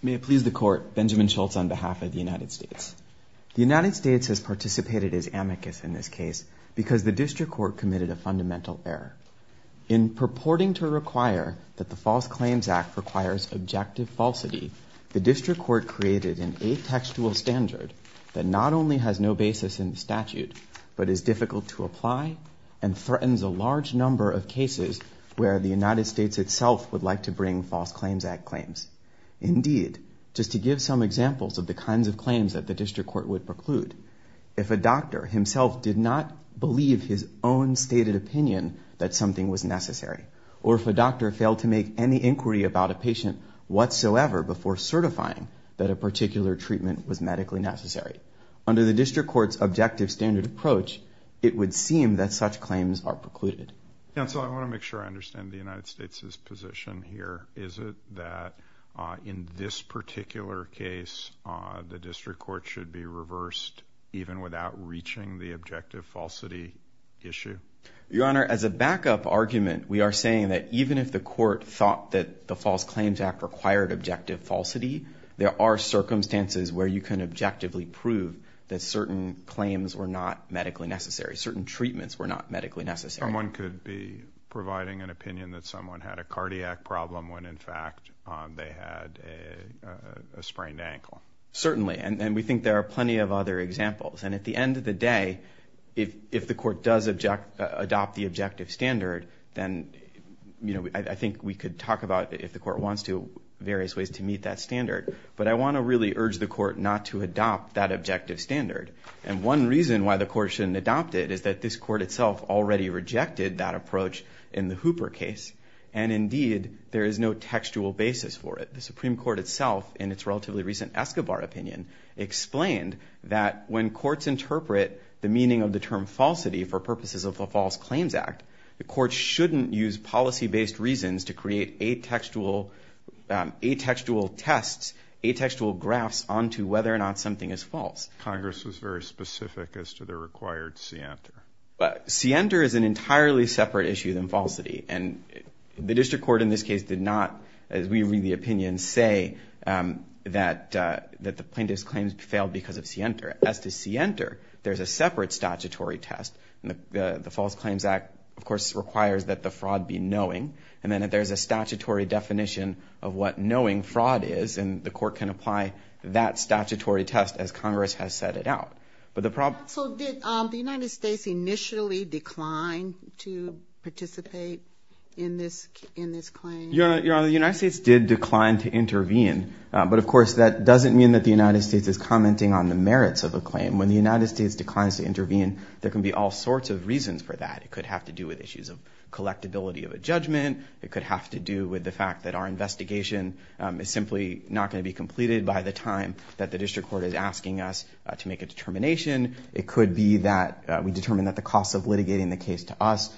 May it please the Court, Benjamin Schultz on behalf of the United States. The United States has participated as amicus in this case because the District Court committed a fundamental error. In purporting to require that the False Claims Act requires objective falsity, the District Court created an atextual standard that not only has no basis in the statute, but is difficult to apply and threatens a large number of cases where the United States itself would like to bring False Claims Act claims. Indeed, just to give some examples of the kinds of claims that the District Court would preclude, if a doctor himself did not believe his own stated opinion that something was necessary, or if a doctor failed to make any inquiry about a patient whatsoever before certifying that a particular treatment was medically necessary, under the District Court's objective standard approach, it would seem that such claims are precluded. Counsel, I want to make sure I understand the United States' position here. Is it that in this particular case the District Court should be reversed even without reaching the objective falsity issue? Your Honor, as a backup argument, we are saying that even if the Court thought that the False Claims Act required objective falsity, there are circumstances where you can objectively prove that certain claims were not medically necessary, certain treatments were not medically necessary. Someone could be providing an opinion that someone had a cardiac problem when in fact they had a sprained ankle. Certainly, and we think there are plenty of other examples. And at the end of the day, if the Court does adopt the objective standard, then I think we could talk about, if the Court wants to, various ways to meet that standard. But I want to really urge the Court not to adopt that objective standard. And one reason why the Court shouldn't adopt it is that this Court itself already rejected that approach in the Hooper case. And indeed, there is no textual basis for it. The Supreme Court itself, in its relatively recent Escobar opinion, explained that when courts interpret the meaning of the term falsity for purposes of the False Claims Act, the Court shouldn't use policy-based reasons to create atextual tests, atextual graphs onto whether or not something is false. Congress was very specific as to the required scienter. Scienter is an entirely separate issue than falsity. And the District Court, in this case, did not, as we read the opinion, say that the plaintiff's claims failed because of scienter. As to scienter, there's a separate statutory test. The False Claims Act, of course, requires that the fraud be knowing. And then there's a statutory definition of what knowing fraud is, and the Court can apply that statutory test as Congress has set it out. So did the United States initially decline to participate in this claim? Your Honor, the United States did decline to intervene. But, of course, that doesn't mean that the United States is commenting on the merits of a claim. When the United States declines to intervene, there can be all sorts of reasons for that. It could have to do with issues of collectability of a judgment. It could have to do with the fact that our investigation is simply not going to be completed by the time that the District Court is asking us to make a determination. It could be that we determine that the cost of litigating the case to us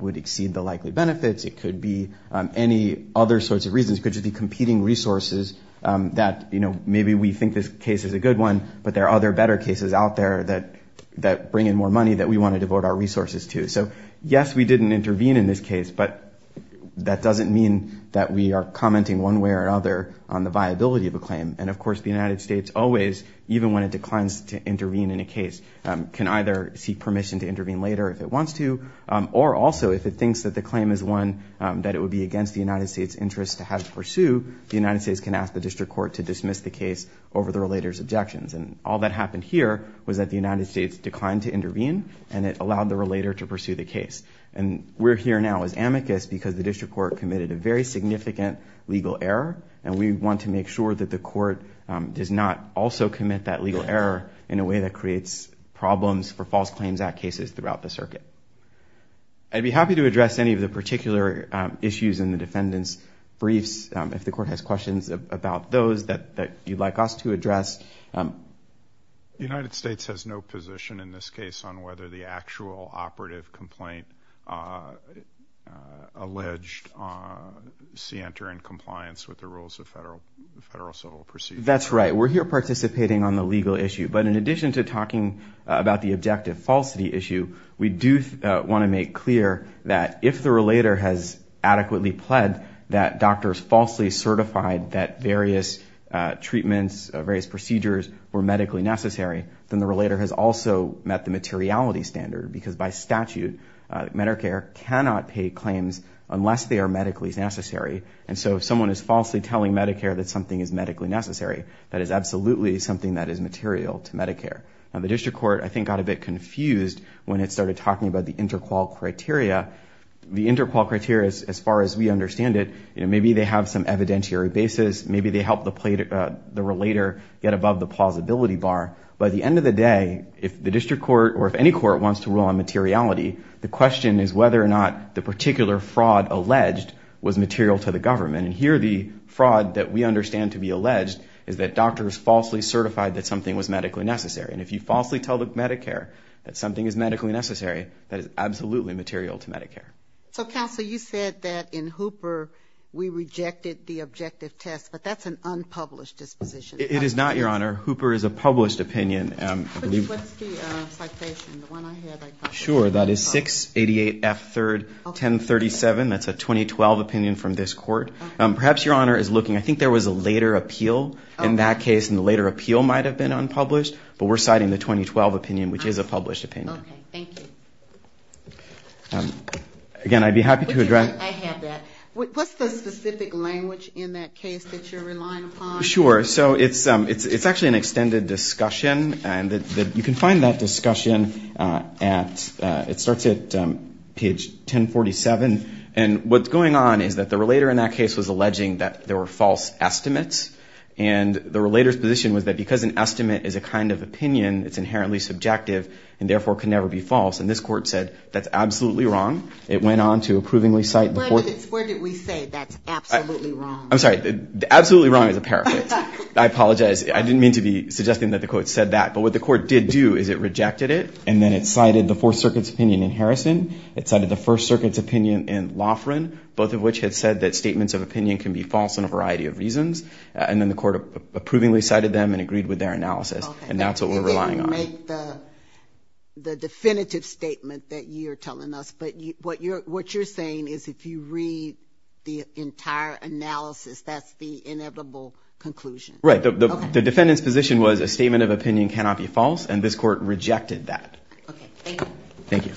would exceed the likely benefits. It could be any other sorts of reasons. It could just be competing resources that, you know, maybe we think this case is a good one, but there are other better cases out there that bring in more money that we want to devote our resources to. So, yes, we didn't intervene in this case, but that doesn't mean that we are commenting one way or another on the viability of a claim. And, of course, the United States always, even when it declines to intervene in a case, can either seek permission to intervene later if it wants to, or also if it thinks that the claim is one that it would be against the United States' interest to have it pursued, the United States can ask the District Court to dismiss the case over the relator's objections. And all that happened here was that the United States declined to intervene, and it allowed the relator to pursue the case. And we're here now as amicus because the District Court committed a very significant legal error, and we want to make sure that the court does not also commit that legal error in a way that creates problems for False Claims Act cases throughout the circuit. I'd be happy to address any of the particular issues in the defendant's briefs, if the court has questions about those that you'd like us to address. The United States has no position in this case on whether the actual operative complaint alleged see entering compliance with the rules of federal civil procedure. That's right. We're here participating on the legal issue. But in addition to talking about the objective falsity issue, we do want to make clear that if the relator has adequately pled that doctors falsely certified that various treatments, various procedures were medically necessary, then the relator has also met the materiality standard. Because by statute, Medicare cannot pay claims unless they are medically necessary. And so if someone is falsely telling Medicare that something is medically necessary, that is absolutely something that is material to Medicare. The district court, I think, got a bit confused when it started talking about the interqual criteria. The interqual criteria, as far as we understand it, maybe they have some evidentiary basis. Maybe they help the relator get above the plausibility bar. But at the end of the day, if the district court or if any court wants to rule on materiality, the question is whether or not the particular fraud alleged was material to the government. And here the fraud that we understand to be alleged is that doctors falsely certified that something was medically necessary. And if you falsely tell Medicare that something is medically necessary, that is absolutely material to Medicare. So, Counsel, you said that in Hooper we rejected the objective test, but that's an unpublished disposition. It is not, Your Honor. Hooper is a published opinion. What's the citation, the one I had? Sure. That is 688F31037. That's a 2012 opinion from this court. Perhaps Your Honor is looking. I think there was a later appeal in that case, and the later appeal might have been unpublished. But we're citing the 2012 opinion, which is a published opinion. Okay. Thank you. Again, I'd be happy to address. I have that. What's the specific language in that case that you're relying upon? Sure. So it's actually an extended discussion. And you can find that discussion at, it starts at page 1047. And what's going on is that the relator in that case was alleging that there were false estimates. And the relator's position was that because an estimate is a kind of opinion, it's inherently subjective, and therefore can never be false. And this court said that's absolutely wrong. It went on to approvingly cite the court. Where did we say that's absolutely wrong? I'm sorry. Absolutely wrong is a paraphrase. I apologize. I didn't mean to be suggesting that the court said that. But what the court did do is it rejected it, and then it cited the Fourth Circuit's opinion in Harrison. It cited the First Circuit's opinion in Loughran, both of which had said that statements of opinion can be false in a variety of reasons. And then the court approvingly cited them and agreed with their analysis. And that's what we're relying on. And then you make the definitive statement that you're telling us. But what you're saying is if you read the entire analysis, that's the inevitable conclusion. Right. The defendant's position was a statement of opinion cannot be false, and this court rejected that. Okay. Thank you. Thank you.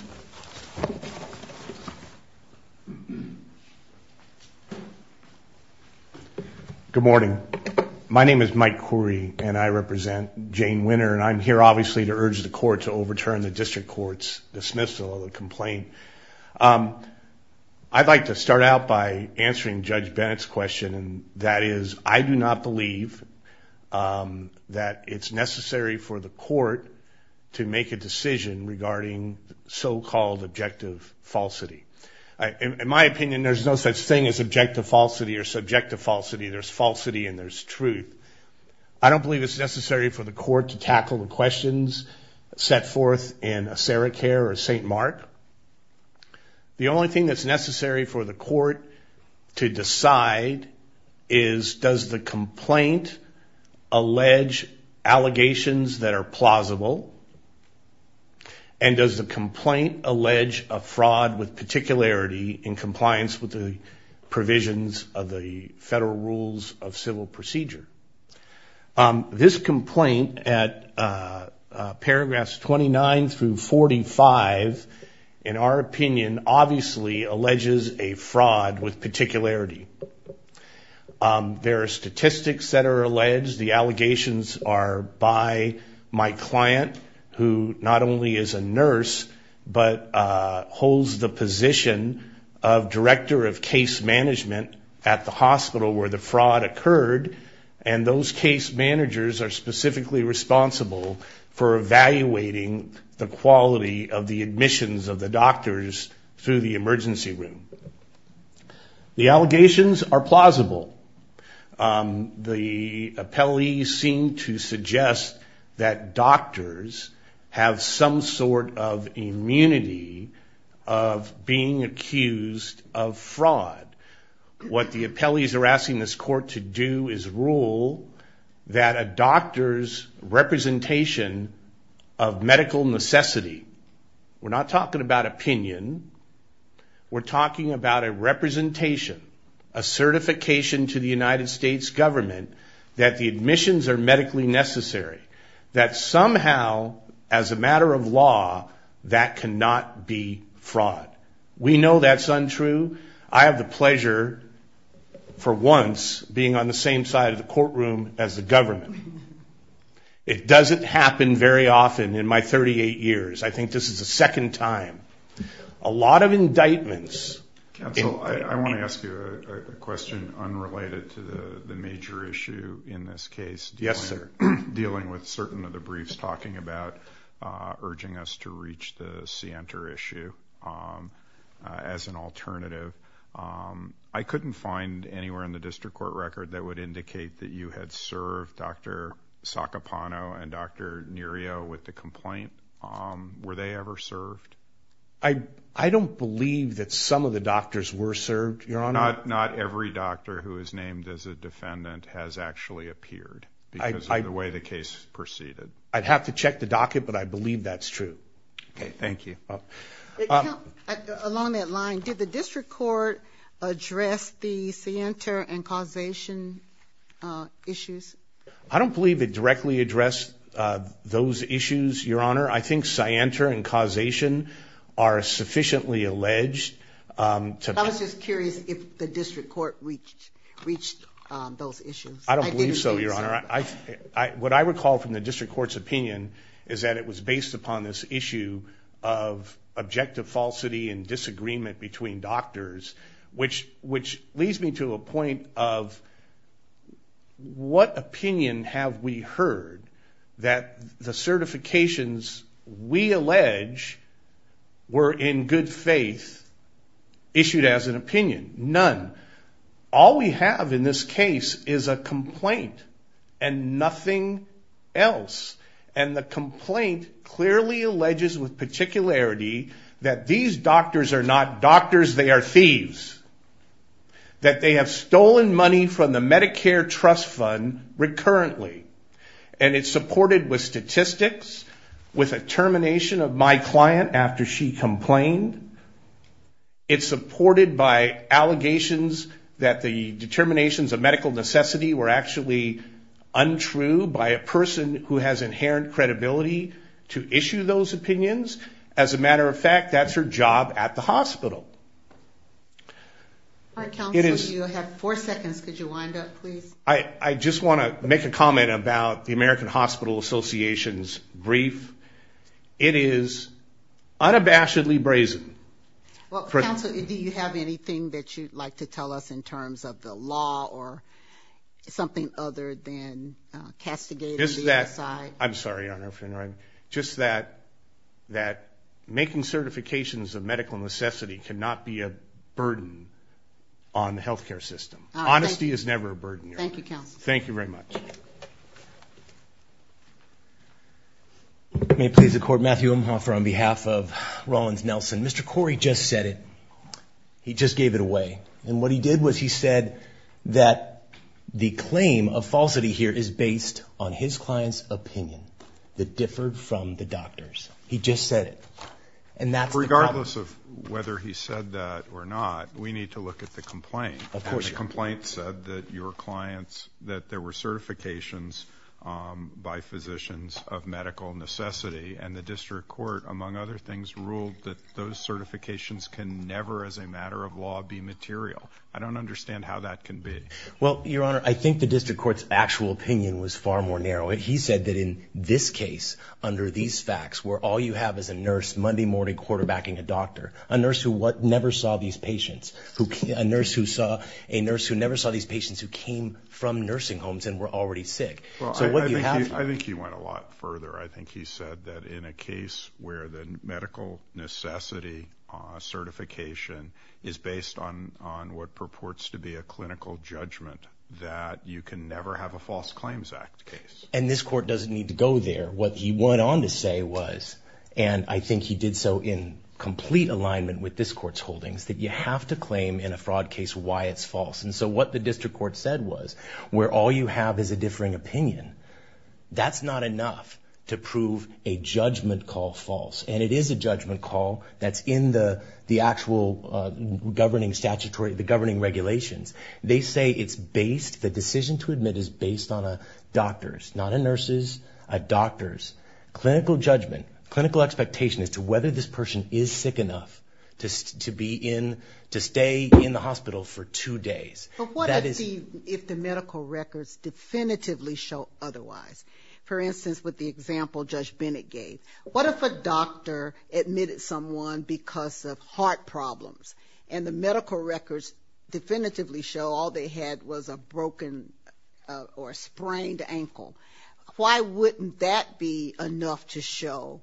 Good morning. My name is Mike Khoury, and I represent Jane Winner. And I'm here, obviously, to urge the court to overturn the district court's dismissal of the complaint. I'd like to start out by answering Judge Bennett's question, and that is, I do not believe that it's necessary for the court to make a decision regarding so-called objective falsity. In my opinion, there's no such thing as objective falsity or subjective falsity. There's falsity and there's truth. I don't believe it's necessary for the court to tackle the questions set forth in Assara Care or St. Mark. The only thing that's necessary for the court to decide is, does the complaint allege allegations that are plausible, and does the complaint allege a fraud with particularity in compliance with the provisions of the federal rules of civil procedure? This complaint at paragraphs 29 through 45, in our opinion, obviously alleges a fraud with particularity. There are statistics that are alleged. The allegations are by my client, who not only is a nurse, but holds the position of director of case management at the hospital where the fraud occurred, and those case managers are specifically responsible for evaluating the quality of the admissions of the doctors through the emergency room. The allegations are plausible. The appellees seem to suggest that doctors have some sort of immunity of being accused of fraud. What the appellees are asking this court to do is rule that a doctor's representation of medical necessity, we're not talking about opinion, we're talking about a representation, a certification to the United States government that the admissions are medically necessary, that somehow, as a matter of law, that cannot be fraud. We know that's untrue. I have the pleasure, for once, being on the same side of the courtroom as the government. It doesn't happen very often in my 38 years. I think this is the second time. A lot of indictments. Counsel, I want to ask you a question unrelated to the major issue in this case. Yes, sir. Dealing with certain of the briefs talking about urging us to reach the Sienter issue as an alternative. I couldn't find anywhere in the district court record that would indicate that you had served Dr. Sacapano and Dr. Nerio with the complaint. Were they ever served? I don't believe that some of the doctors were served, Your Honor. Not every doctor who is named as a defendant has actually appeared because of the way the case proceeded. I'd have to check the docket, but I believe that's true. Okay, thank you. Along that line, did the district court address the Sienter and causation issues? I don't believe it directly addressed those issues, Your Honor. I think Sienter and causation are sufficiently alleged. I was just curious if the district court reached those issues. I don't believe so, Your Honor. What I recall from the district court's opinion is that it was based upon this issue of objective falsity and disagreement between doctors, which leads me to a point of what opinion have we heard that the certifications we allege were in good faith issued as an opinion? None. All we have in this case is a complaint and nothing else. And the complaint clearly alleges with particularity that these doctors are not doctors, they are thieves. That they have stolen money from the Medicare trust fund recurrently. And it's supported with statistics, with a termination of my client after she complained. It's supported by allegations that the determinations of medical necessity were actually untrue by a person who has inherent credibility to issue those opinions. As a matter of fact, that's her job at the hospital. All right, counsel, you have four seconds. Could you wind up, please? I just want to make a comment about the American Hospital Association's brief. It is unabashedly brazen. Well, counsel, do you have anything that you'd like to tell us in terms of the law or something other than castigating the other side? I'm sorry, Your Honor. Just that making certifications of medical necessity cannot be a burden on the health care system. Honesty is never a burden, Your Honor. Thank you, counsel. Thank you very much. May it please the Court, Matthew Umhofer on behalf of Rollins Nelson. Mr. Corey just said it. He just gave it away. And what he did was he said that the claim of falsity here is based on his client's opinion that differed from the doctor's. He just said it. And that's the problem. Regardless of whether he said that or not, we need to look at the complaint. Of course, Your Honor. Your complaint said that there were certifications by physicians of medical necessity, and the district court, among other things, ruled that those certifications can never, as a matter of law, be material. I don't understand how that can be. Well, Your Honor, I think the district court's actual opinion was far more narrow. He said that in this case, under these facts, where all you have is a nurse Monday morning quarterbacking a doctor, a nurse who never saw these patients, a nurse who never saw these patients who came from nursing homes and were already sick. I think he went a lot further. I think he said that in a case where the medical necessity certification is based on what purports to be a clinical judgment, that you can never have a False Claims Act case. And this Court doesn't need to go there. What he went on to say was, and I think he did so in complete alignment with this Court's holdings, that you have to claim in a fraud case why it's false. And so what the district court said was, where all you have is a differing opinion, that's not enough to prove a judgment call false. And it is a judgment call that's in the actual governing statutory, the governing regulations. They say it's based, the decision to admit is based on a doctor's, not a nurse's, a doctor's clinical judgment, clinical expectation as to whether this person is sick enough to be in, to stay in the hospital for two days. But what if the medical records definitively show otherwise? For instance, with the example Judge Bennett gave, what if a doctor admitted someone because of heart problems, and the medical records definitively show all they had was a broken or sprained ankle? Why wouldn't that be enough to show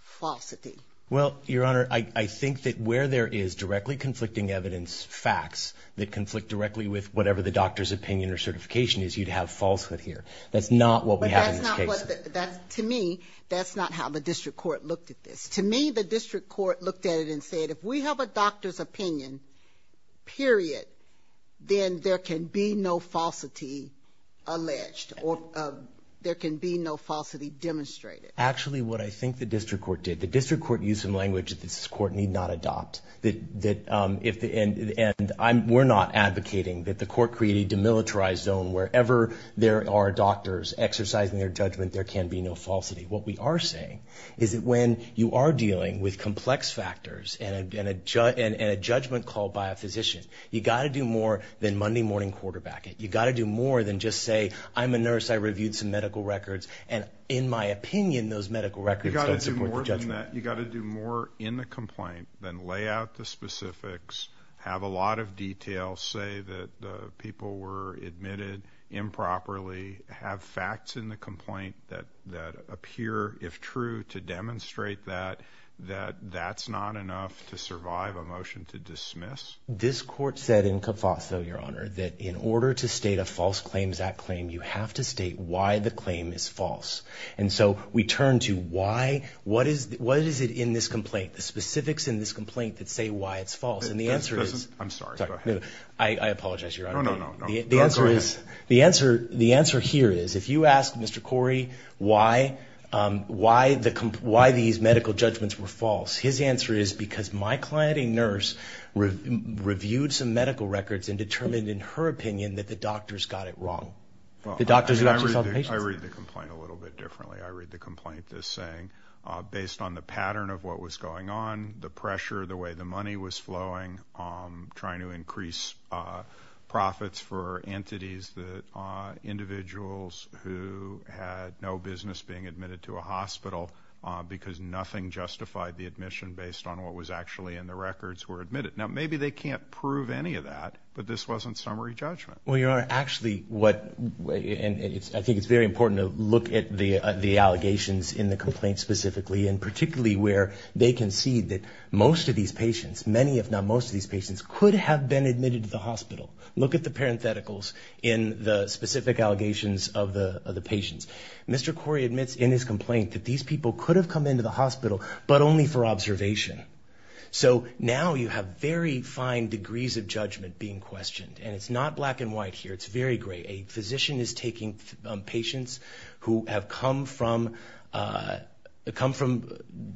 falsity? Well, Your Honor, I think that where there is directly conflicting evidence, facts, that conflict directly with whatever the doctor's opinion or certification is, you'd have falsehood here. That's not what we have in this case. But that's not what, to me, that's not how the district court looked at this. To me, the district court looked at it and said, if we have a doctor's opinion, period, then there can be no falsity alleged, or there can be no falsity demonstrated. Actually, what I think the district court did, the district court used some language that this court need not adopt. And we're not advocating that the court create a demilitarized zone wherever there are doctors exercising their judgment, there can be no falsity. What we are saying is that when you are dealing with complex factors and a judgment called by a physician, you've got to do more than Monday morning quarterback it. You've got to do more than just say, I'm a nurse, I reviewed some medical records, and in my opinion those medical records don't support the judgment. You've got to do more than that. You've got to do more in the complaint than lay out the specifics, have a lot of detail, say that the people were admitted improperly, have facts in the complaint that appear, if true, to demonstrate that, that that's not enough to survive a motion to dismiss. This court said in Cofaso, Your Honor, that in order to state a False Claims Act claim, you have to state why the claim is false. And so we turn to why, what is it in this complaint, the specifics in this complaint that say why it's false. I'm sorry, go ahead. I apologize, Your Honor. No, no, no, go ahead. The answer here is if you ask Mr. Corey why these medical judgments were false, his answer is because my client, a nurse, reviewed some medical records and determined in her opinion that the doctors got it wrong. I read the complaint a little bit differently. I read the complaint as saying, based on the pattern of what was going on, the pressure, the way the money was flowing, trying to increase profits for entities, the individuals who had no business being admitted to a hospital because nothing justified the admission based on what was actually in the records were admitted. Now, maybe they can't prove any of that, but this wasn't summary judgment. Well, Your Honor, actually what, and I think it's very important to look at the allegations in the complaint specifically, and particularly where they concede that most of these patients, many if not most of these patients, could have been admitted to the hospital. Look at the parentheticals in the specific allegations of the patients. Mr. Corey admits in his complaint that these people could have come into the hospital but only for observation. So now you have very fine degrees of judgment being questioned, and it's not black and white here. It's very gray. A physician is taking patients who have come from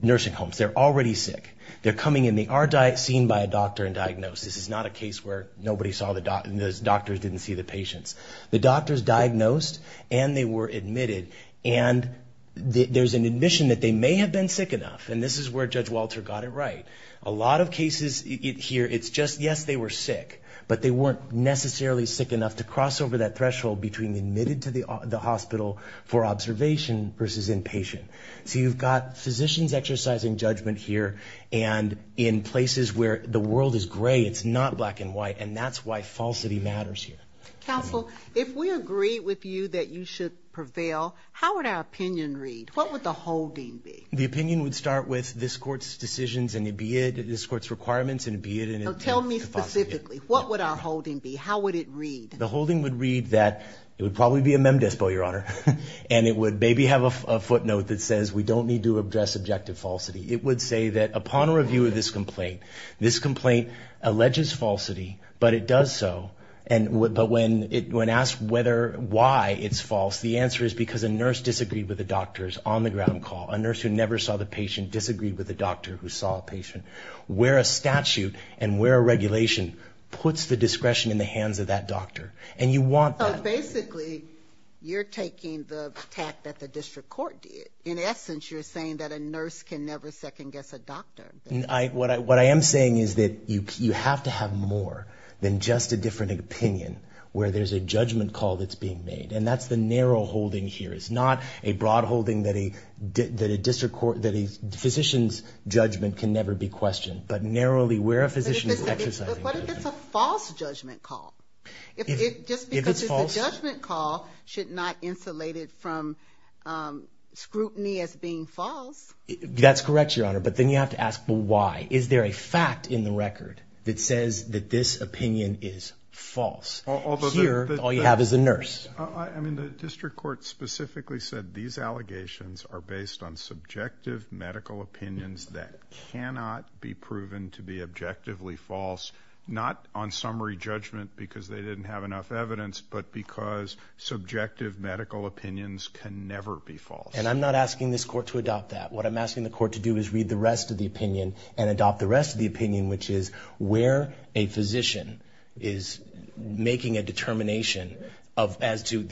nursing homes. They're already sick. They're coming in. They are seen by a doctor and diagnosed. This is not a case where nobody saw the doctor and the doctors didn't see the patients. The doctors diagnosed and they were admitted, and there's an admission that they may have been sick enough, and this is where Judge Walter got it right. A lot of cases here, it's just, yes, they were sick, but they weren't necessarily sick enough to cross over that threshold between admitted to the hospital for observation versus inpatient. So you've got physicians exercising judgment here, and in places where the world is gray, it's not black and white, and that's why falsity matters here. Counsel, if we agree with you that you should prevail, how would our opinion read? What would the whole deem be? The opinion would start with this Court's decisions and be it this Court's requirements and be it in a false view. So tell me specifically, what would our holding be? How would it read? The holding would read that it would probably be a mem despo, Your Honor, and it would maybe have a footnote that says we don't need to address objective falsity. It would say that upon a review of this complaint, this complaint alleges falsity, but it does so, but when asked why it's false, the answer is because a nurse disagreed with the doctors on the ground call, a nurse who never saw the patient disagreed with the doctor who saw a patient. Where a statute and where a regulation puts the discretion in the hands of that doctor, and you want that. So basically, you're taking the tact that the district court did. In essence, you're saying that a nurse can never second-guess a doctor. What I am saying is that you have to have more than just a different opinion where there's a judgment call that's being made, and that's the narrow holding here. It's not a broad holding that a physician's judgment can never be questioned, but narrowly where a physician is exercising judgment. But what if it's a false judgment call? If it's false? Just because it's a judgment call should not insulate it from scrutiny as being false. That's correct, Your Honor, but then you have to ask why. Is there a fact in the record that says that this opinion is false? Here, all you have is a nurse. I mean, the district court specifically said these allegations are based on subjective medical opinions that cannot be proven to be objectively false, not on summary judgment because they didn't have enough evidence, but because subjective medical opinions can never be false. And I'm not asking this court to adopt that. What I'm asking the court to do is read the rest of the opinion and adopt the rest of the opinion, which is where a physician is making a determination as to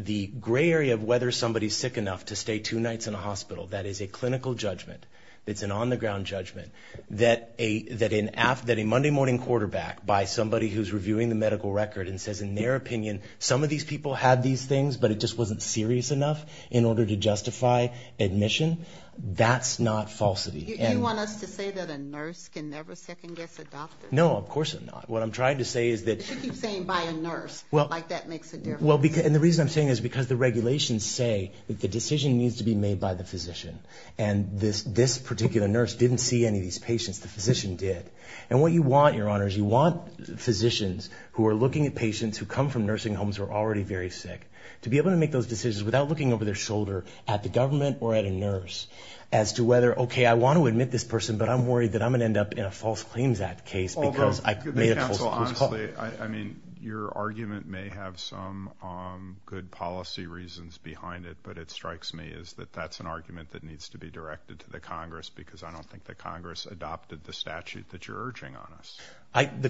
the gray area of whether somebody's sick enough to stay two nights in a hospital. That is a clinical judgment. It's an on-the-ground judgment that a Monday-morning quarterback, by somebody who's reviewing the medical record and says in their opinion, some of these people had these things, but it just wasn't serious enough in order to justify admission. That's not falsity. You want us to say that a nurse can never second-guess a doctor? No, of course not. What I'm trying to say is that— You keep saying by a nurse. Like that makes a difference. Well, and the reason I'm saying this is because the regulations say that the decision needs to be made by the physician, and this particular nurse didn't see any of these patients. The physician did. And what you want, Your Honor, is you want physicians who are looking at patients who come from nursing homes who are already very sick to be able to make those decisions without looking over their shoulder at the government or at a nurse as to whether, okay, I want to admit this person, but I'm worried that I'm going to end up in a false claims act case because I made a false case. Counsel, honestly, I mean, your argument may have some good policy reasons behind it, but what strikes me is that that's an argument that needs to be directed to the Congress because I don't think the Congress adopted the statute that you're urging on us. The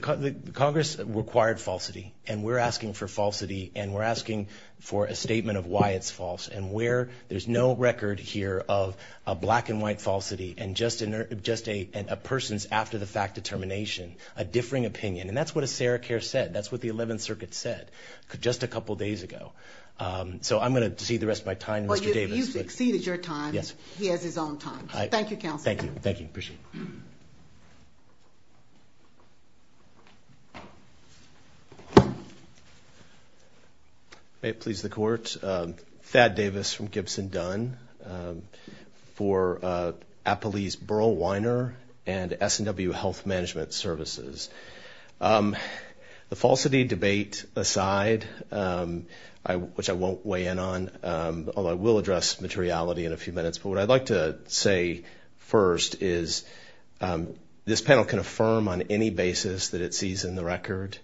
Congress required falsity, and we're asking for falsity, and we're asking for a statement of why it's false. And where there's no record here of a black-and-white falsity and just a person's after-the-fact determination, a differing opinion. And that's what a Sarah Care said. That's what the 11th Circuit said just a couple days ago. So I'm going to cede the rest of my time to Mr. Davis. Well, you've exceeded your time. Yes. He has his own time. Thank you, Counsel. Thank you. Thank you. Appreciate it. May it please the Court. Thank you. My name is Thad Davis from Gibson Dunn for Appleease Burl Weiner and SNW Health Management Services. The falsity debate aside, which I won't weigh in on, although I will address materiality in a few minutes. But what I'd like to say first is this panel can affirm on any basis that it sees in the record.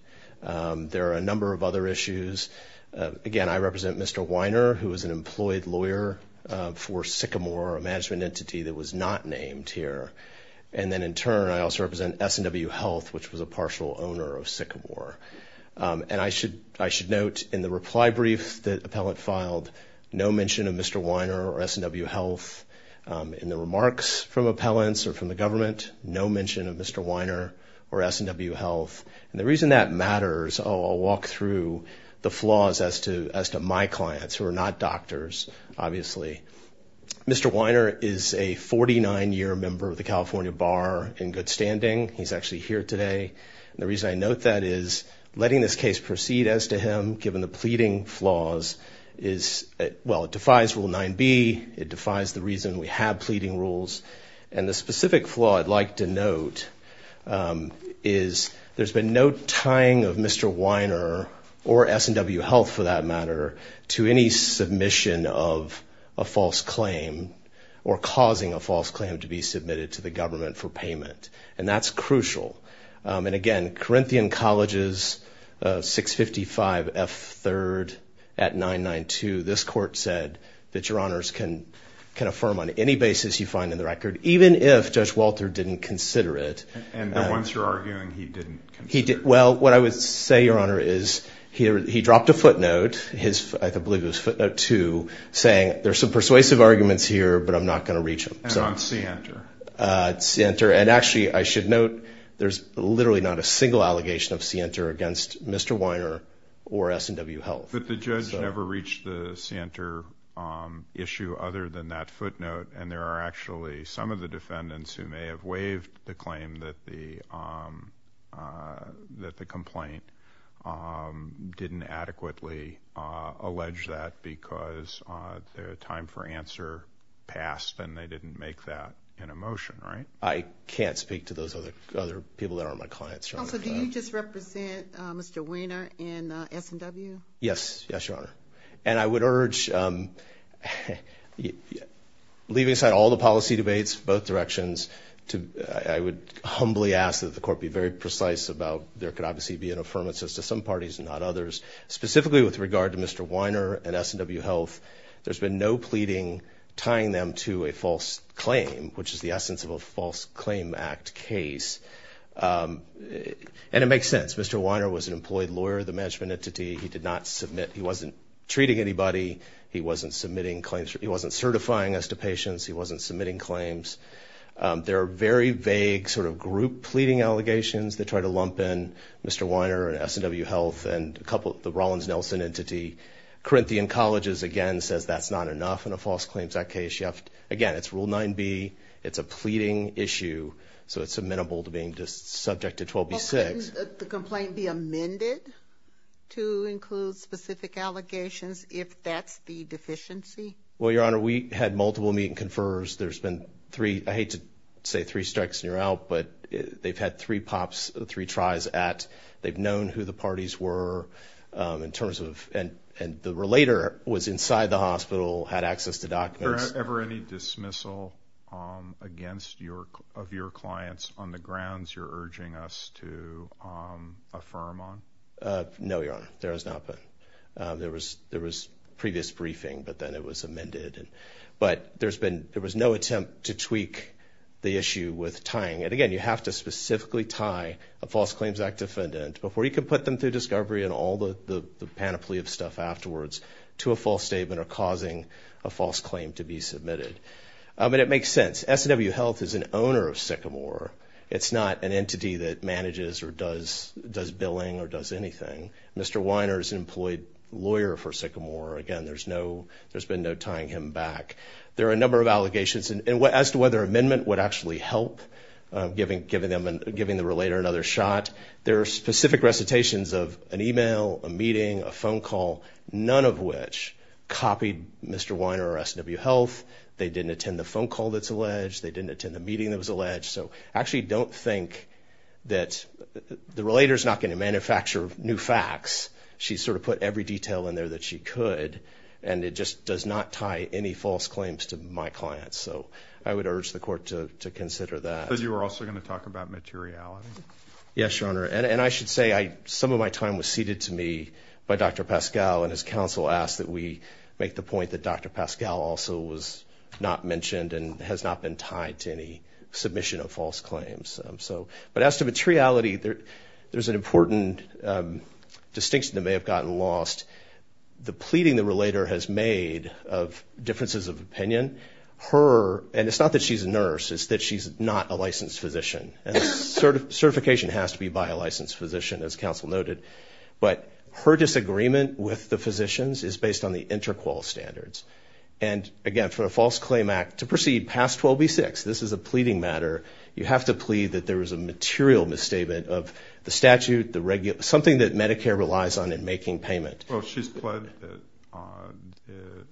There are a number of other issues. Again, I represent Mr. Weiner, who is an employed lawyer for Sycamore, a management entity that was not named here. And then, in turn, I also represent SNW Health, which was a partial owner of Sycamore. And I should note in the reply brief the appellant filed, no mention of Mr. Weiner or SNW Health. In the remarks from appellants or from the government, no mention of Mr. Weiner or SNW Health. And the reason that matters, I'll walk through the flaws as to my clients, who are not doctors, obviously. Mr. Weiner is a 49-year member of the California Bar in good standing. He's actually here today. And the reason I note that is letting this case proceed as to him, given the pleading flaws, is, well, it defies Rule 9b. It defies the reason we have pleading rules. And the specific flaw I'd like to note is there's been no tying of Mr. Weiner or SNW Health, for that matter, to any submission of a false claim or causing a false claim to be submitted to the government for payment. And that's crucial. And, again, Corinthian Colleges, 655 F3rd at 992, this court said that Your Honors can affirm on any basis you find in the record, even if Judge Walter didn't consider it. And the ones you're arguing he didn't consider? Well, what I would say, Your Honor, is he dropped a footnote, I believe it was footnote 2, saying there's some persuasive arguments here, but I'm not going to reach them. And on C-Enter? C-Enter. And, actually, I should note there's literally not a single allegation of C-Enter against Mr. Weiner or SNW Health. But the judge never reached the C-Enter issue other than that footnote, and there are actually some of the defendants who may have waived the claim that the complaint didn't adequately allege that because their time for answer passed and they didn't make that in a motion, right? I can't speak to those other people that aren't my clients, Your Honor. Counsel, do you just represent Mr. Weiner and SNW? Yes. Yes, Your Honor. And I would urge, leaving aside all the policy debates, both directions, I would humbly ask that the court be very precise about there could obviously be an affirmation to some parties and not others, specifically with regard to Mr. Weiner and SNW Health. There's been no pleading tying them to a false claim, which is the essence of a False Claim Act case. And it makes sense. Mr. Weiner was an employed lawyer of the management entity. He did not submit. He wasn't treating anybody. He wasn't submitting claims. He wasn't certifying us to patients. He wasn't submitting claims. There are very vague sort of group pleading allegations that try to lump in Mr. Weiner and SNW Health and a couple of the Rollins-Nelson entity. Corinthian Colleges, again, says that's not enough in a False Claims Act case. Again, it's Rule 9b. It's a pleading issue, so it's amenable to being just subject to 12b-6. Couldn't the complaint be amended to include specific allegations if that's the deficiency? Well, Your Honor, we had multiple meet-and-confers. There's been three. I hate to say three strikes and you're out, but they've had three pops, three tries at. They've known who the parties were in terms of, and the relator was inside the hospital, had access to documents. Was there ever any dismissal of your clients on the grounds you're urging us to affirm on? No, Your Honor, there has not been. There was previous briefing, but then it was amended. But there was no attempt to tweak the issue with tying it. Again, you have to specifically tie a False Claims Act defendant before you can put them through discovery and all the panoply of stuff afterwards to a false statement or causing a false claim to be submitted. But it makes sense. SNW Health is an owner of Sycamore. It's not an entity that manages or does billing or does anything. Mr. Weiner is an employed lawyer for Sycamore. Again, there's been no tying him back. There are a number of allegations as to whether amendment would actually help giving the relator another shot. There are specific recitations of an email, a meeting, a phone call, none of which copied Mr. Weiner or SNW Health. They didn't attend the phone call that's alleged. They didn't attend the meeting that was alleged. So I actually don't think that the relator's not going to manufacture new facts. She sort of put every detail in there that she could, and it just does not tie any false claims to my clients. So I would urge the court to consider that. But you were also going to talk about materiality. Yes, Your Honor, and I should say some of my time was ceded to me by Dr. Pascal and his counsel asked that we make the point that Dr. Pascal also was not mentioned and has not been tied to any submission of false claims. But as to materiality, there's an important distinction that may have gotten lost. The pleading the relator has made of differences of opinion, her, and it's not that she's a nurse, it's that she's not a licensed physician, and certification has to be by a licensed physician, as counsel noted. But her disagreement with the physicians is based on the interqual standards. And again, for a false claim act to proceed past 12b-6, this is a pleading matter. You have to plead that there was a material misstatement of the statute, something that Medicare relies on in making payment. Well, she's pledged that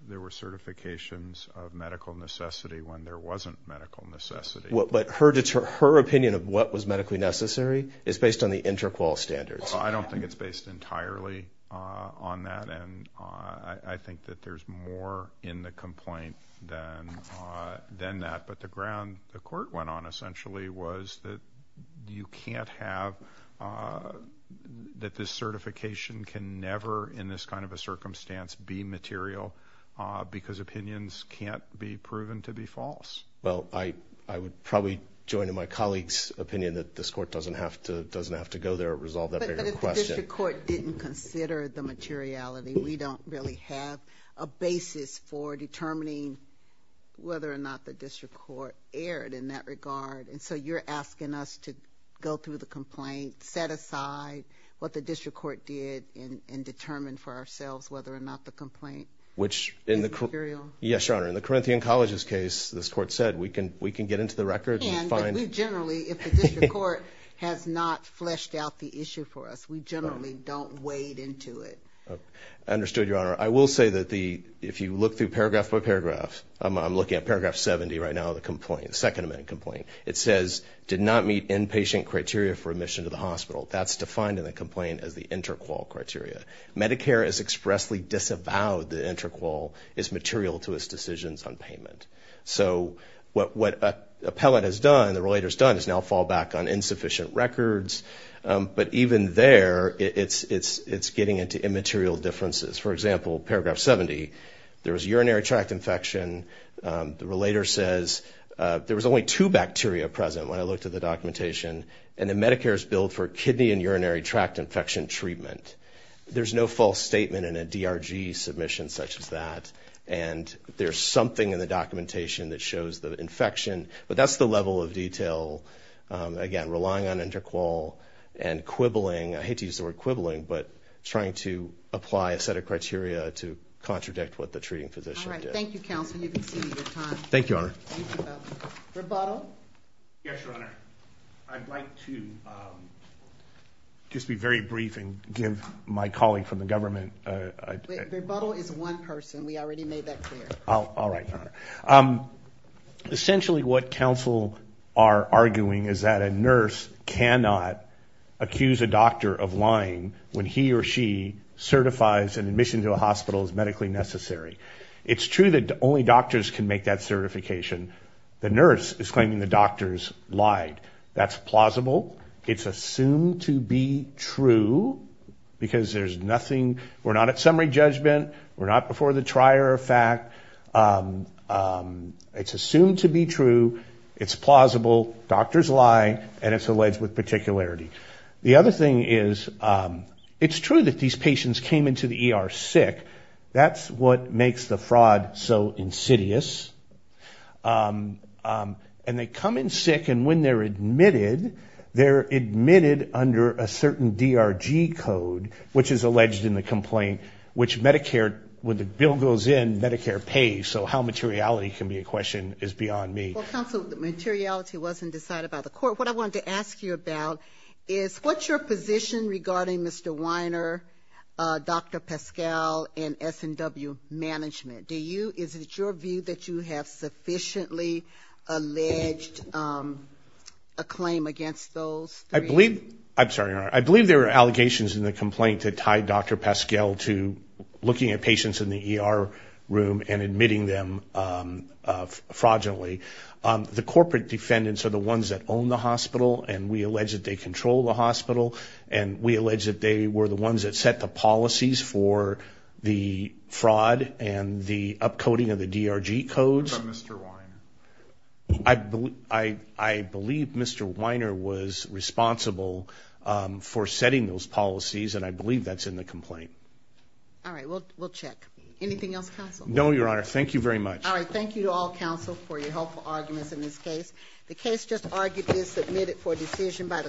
there were certifications of medical necessity when there wasn't medical necessity. But her opinion of what was medically necessary is based on the interqual standards. I don't think it's based entirely on that, and I think that there's more in the complaint than that. But the ground the court went on essentially was that you can't have that this certification can never, in this kind of a circumstance, be material because opinions can't be proven to be false. Well, I would probably join in my colleague's opinion that this court doesn't have to go there and resolve that bigger question. But if the district court didn't consider the materiality, we don't really have a basis for determining whether or not the district court erred in that regard. And so you're asking us to go through the complaint, set aside what the district court did, and determine for ourselves whether or not the complaint is material? Yes, Your Honor. In the Corinthian College's case, this court said we can get into the record and find— We can, but we generally, if the district court has not fleshed out the issue for us, we generally don't wade into it. Understood, Your Honor. I will say that if you look through paragraph by paragraph—I'm looking at paragraph 70 right now of the complaint, the Second Amendment complaint—it says, did not meet inpatient criteria for admission to the hospital. That's defined in the complaint as the inter-qual criteria. Medicare has expressly disavowed the inter-qual as material to its decisions on payment. So what an appellate has done, the relator's done, is now fall back on insufficient records. But even there, it's getting into immaterial differences. For example, paragraph 70, there was urinary tract infection. The relator says, there was only two bacteria present when I looked at the documentation, and the Medicare's billed for kidney and urinary tract infection treatment. There's no false statement in a DRG submission such as that. And there's something in the documentation that shows the infection. But that's the level of detail. Again, relying on inter-qual and quibbling—I hate to use the word quibbling, but trying to apply a set of criteria to contradict what the treating physician did. All right. Thank you, Counsel. You've exceeded your time. Thank you, Your Honor. Thank you both. Verbuttal? Yes, Your Honor. I'd like to just be very brief and give my colleague from the government— Verbuttal is one person. We already made that clear. All right, Your Honor. Essentially what counsel are arguing is that a nurse cannot accuse a doctor of lying when he or she certifies an admission to a hospital as medically necessary. It's true that only doctors can make that certification. The nurse is claiming the doctors lied. That's plausible. It's assumed to be true because there's nothing—we're not at summary judgment. We're not before the trier of fact. It's assumed to be true. It's plausible. Doctors lie, and it's alleged with particularity. The other thing is it's true that these patients came into the ER sick. That's what makes the fraud so insidious. And they come in sick, and when they're admitted, they're admitted under a certain DRG code, which is alleged in the complaint, which Medicare, when the bill goes in, Medicare pays. So how materiality can be a question is beyond me. Well, counsel, materiality wasn't decided by the court. What I wanted to ask you about is what's your position regarding Mr. Weiner, Dr. Pascal, and SNW management? Do you—is it your view that you have sufficiently alleged a claim against those three? I believe—I'm sorry, Your Honor. I believe there are allegations in the complaint that tie Dr. Pascal to looking at patients in the ER room and admitting them fraudulently. The corporate defendants are the ones that own the hospital, and we allege that they control the hospital, and we allege that they were the ones that set the policies for the fraud and the upcoding of the DRG codes. What about Mr. Weiner? I believe Mr. Weiner was responsible for setting those policies, and I believe that's in the complaint. All right. We'll check. Anything else, counsel? No, Your Honor. Thank you very much. All right. Thank you to all counsel for your helpful arguments in this case. The case just argued is submitted for decision by the court.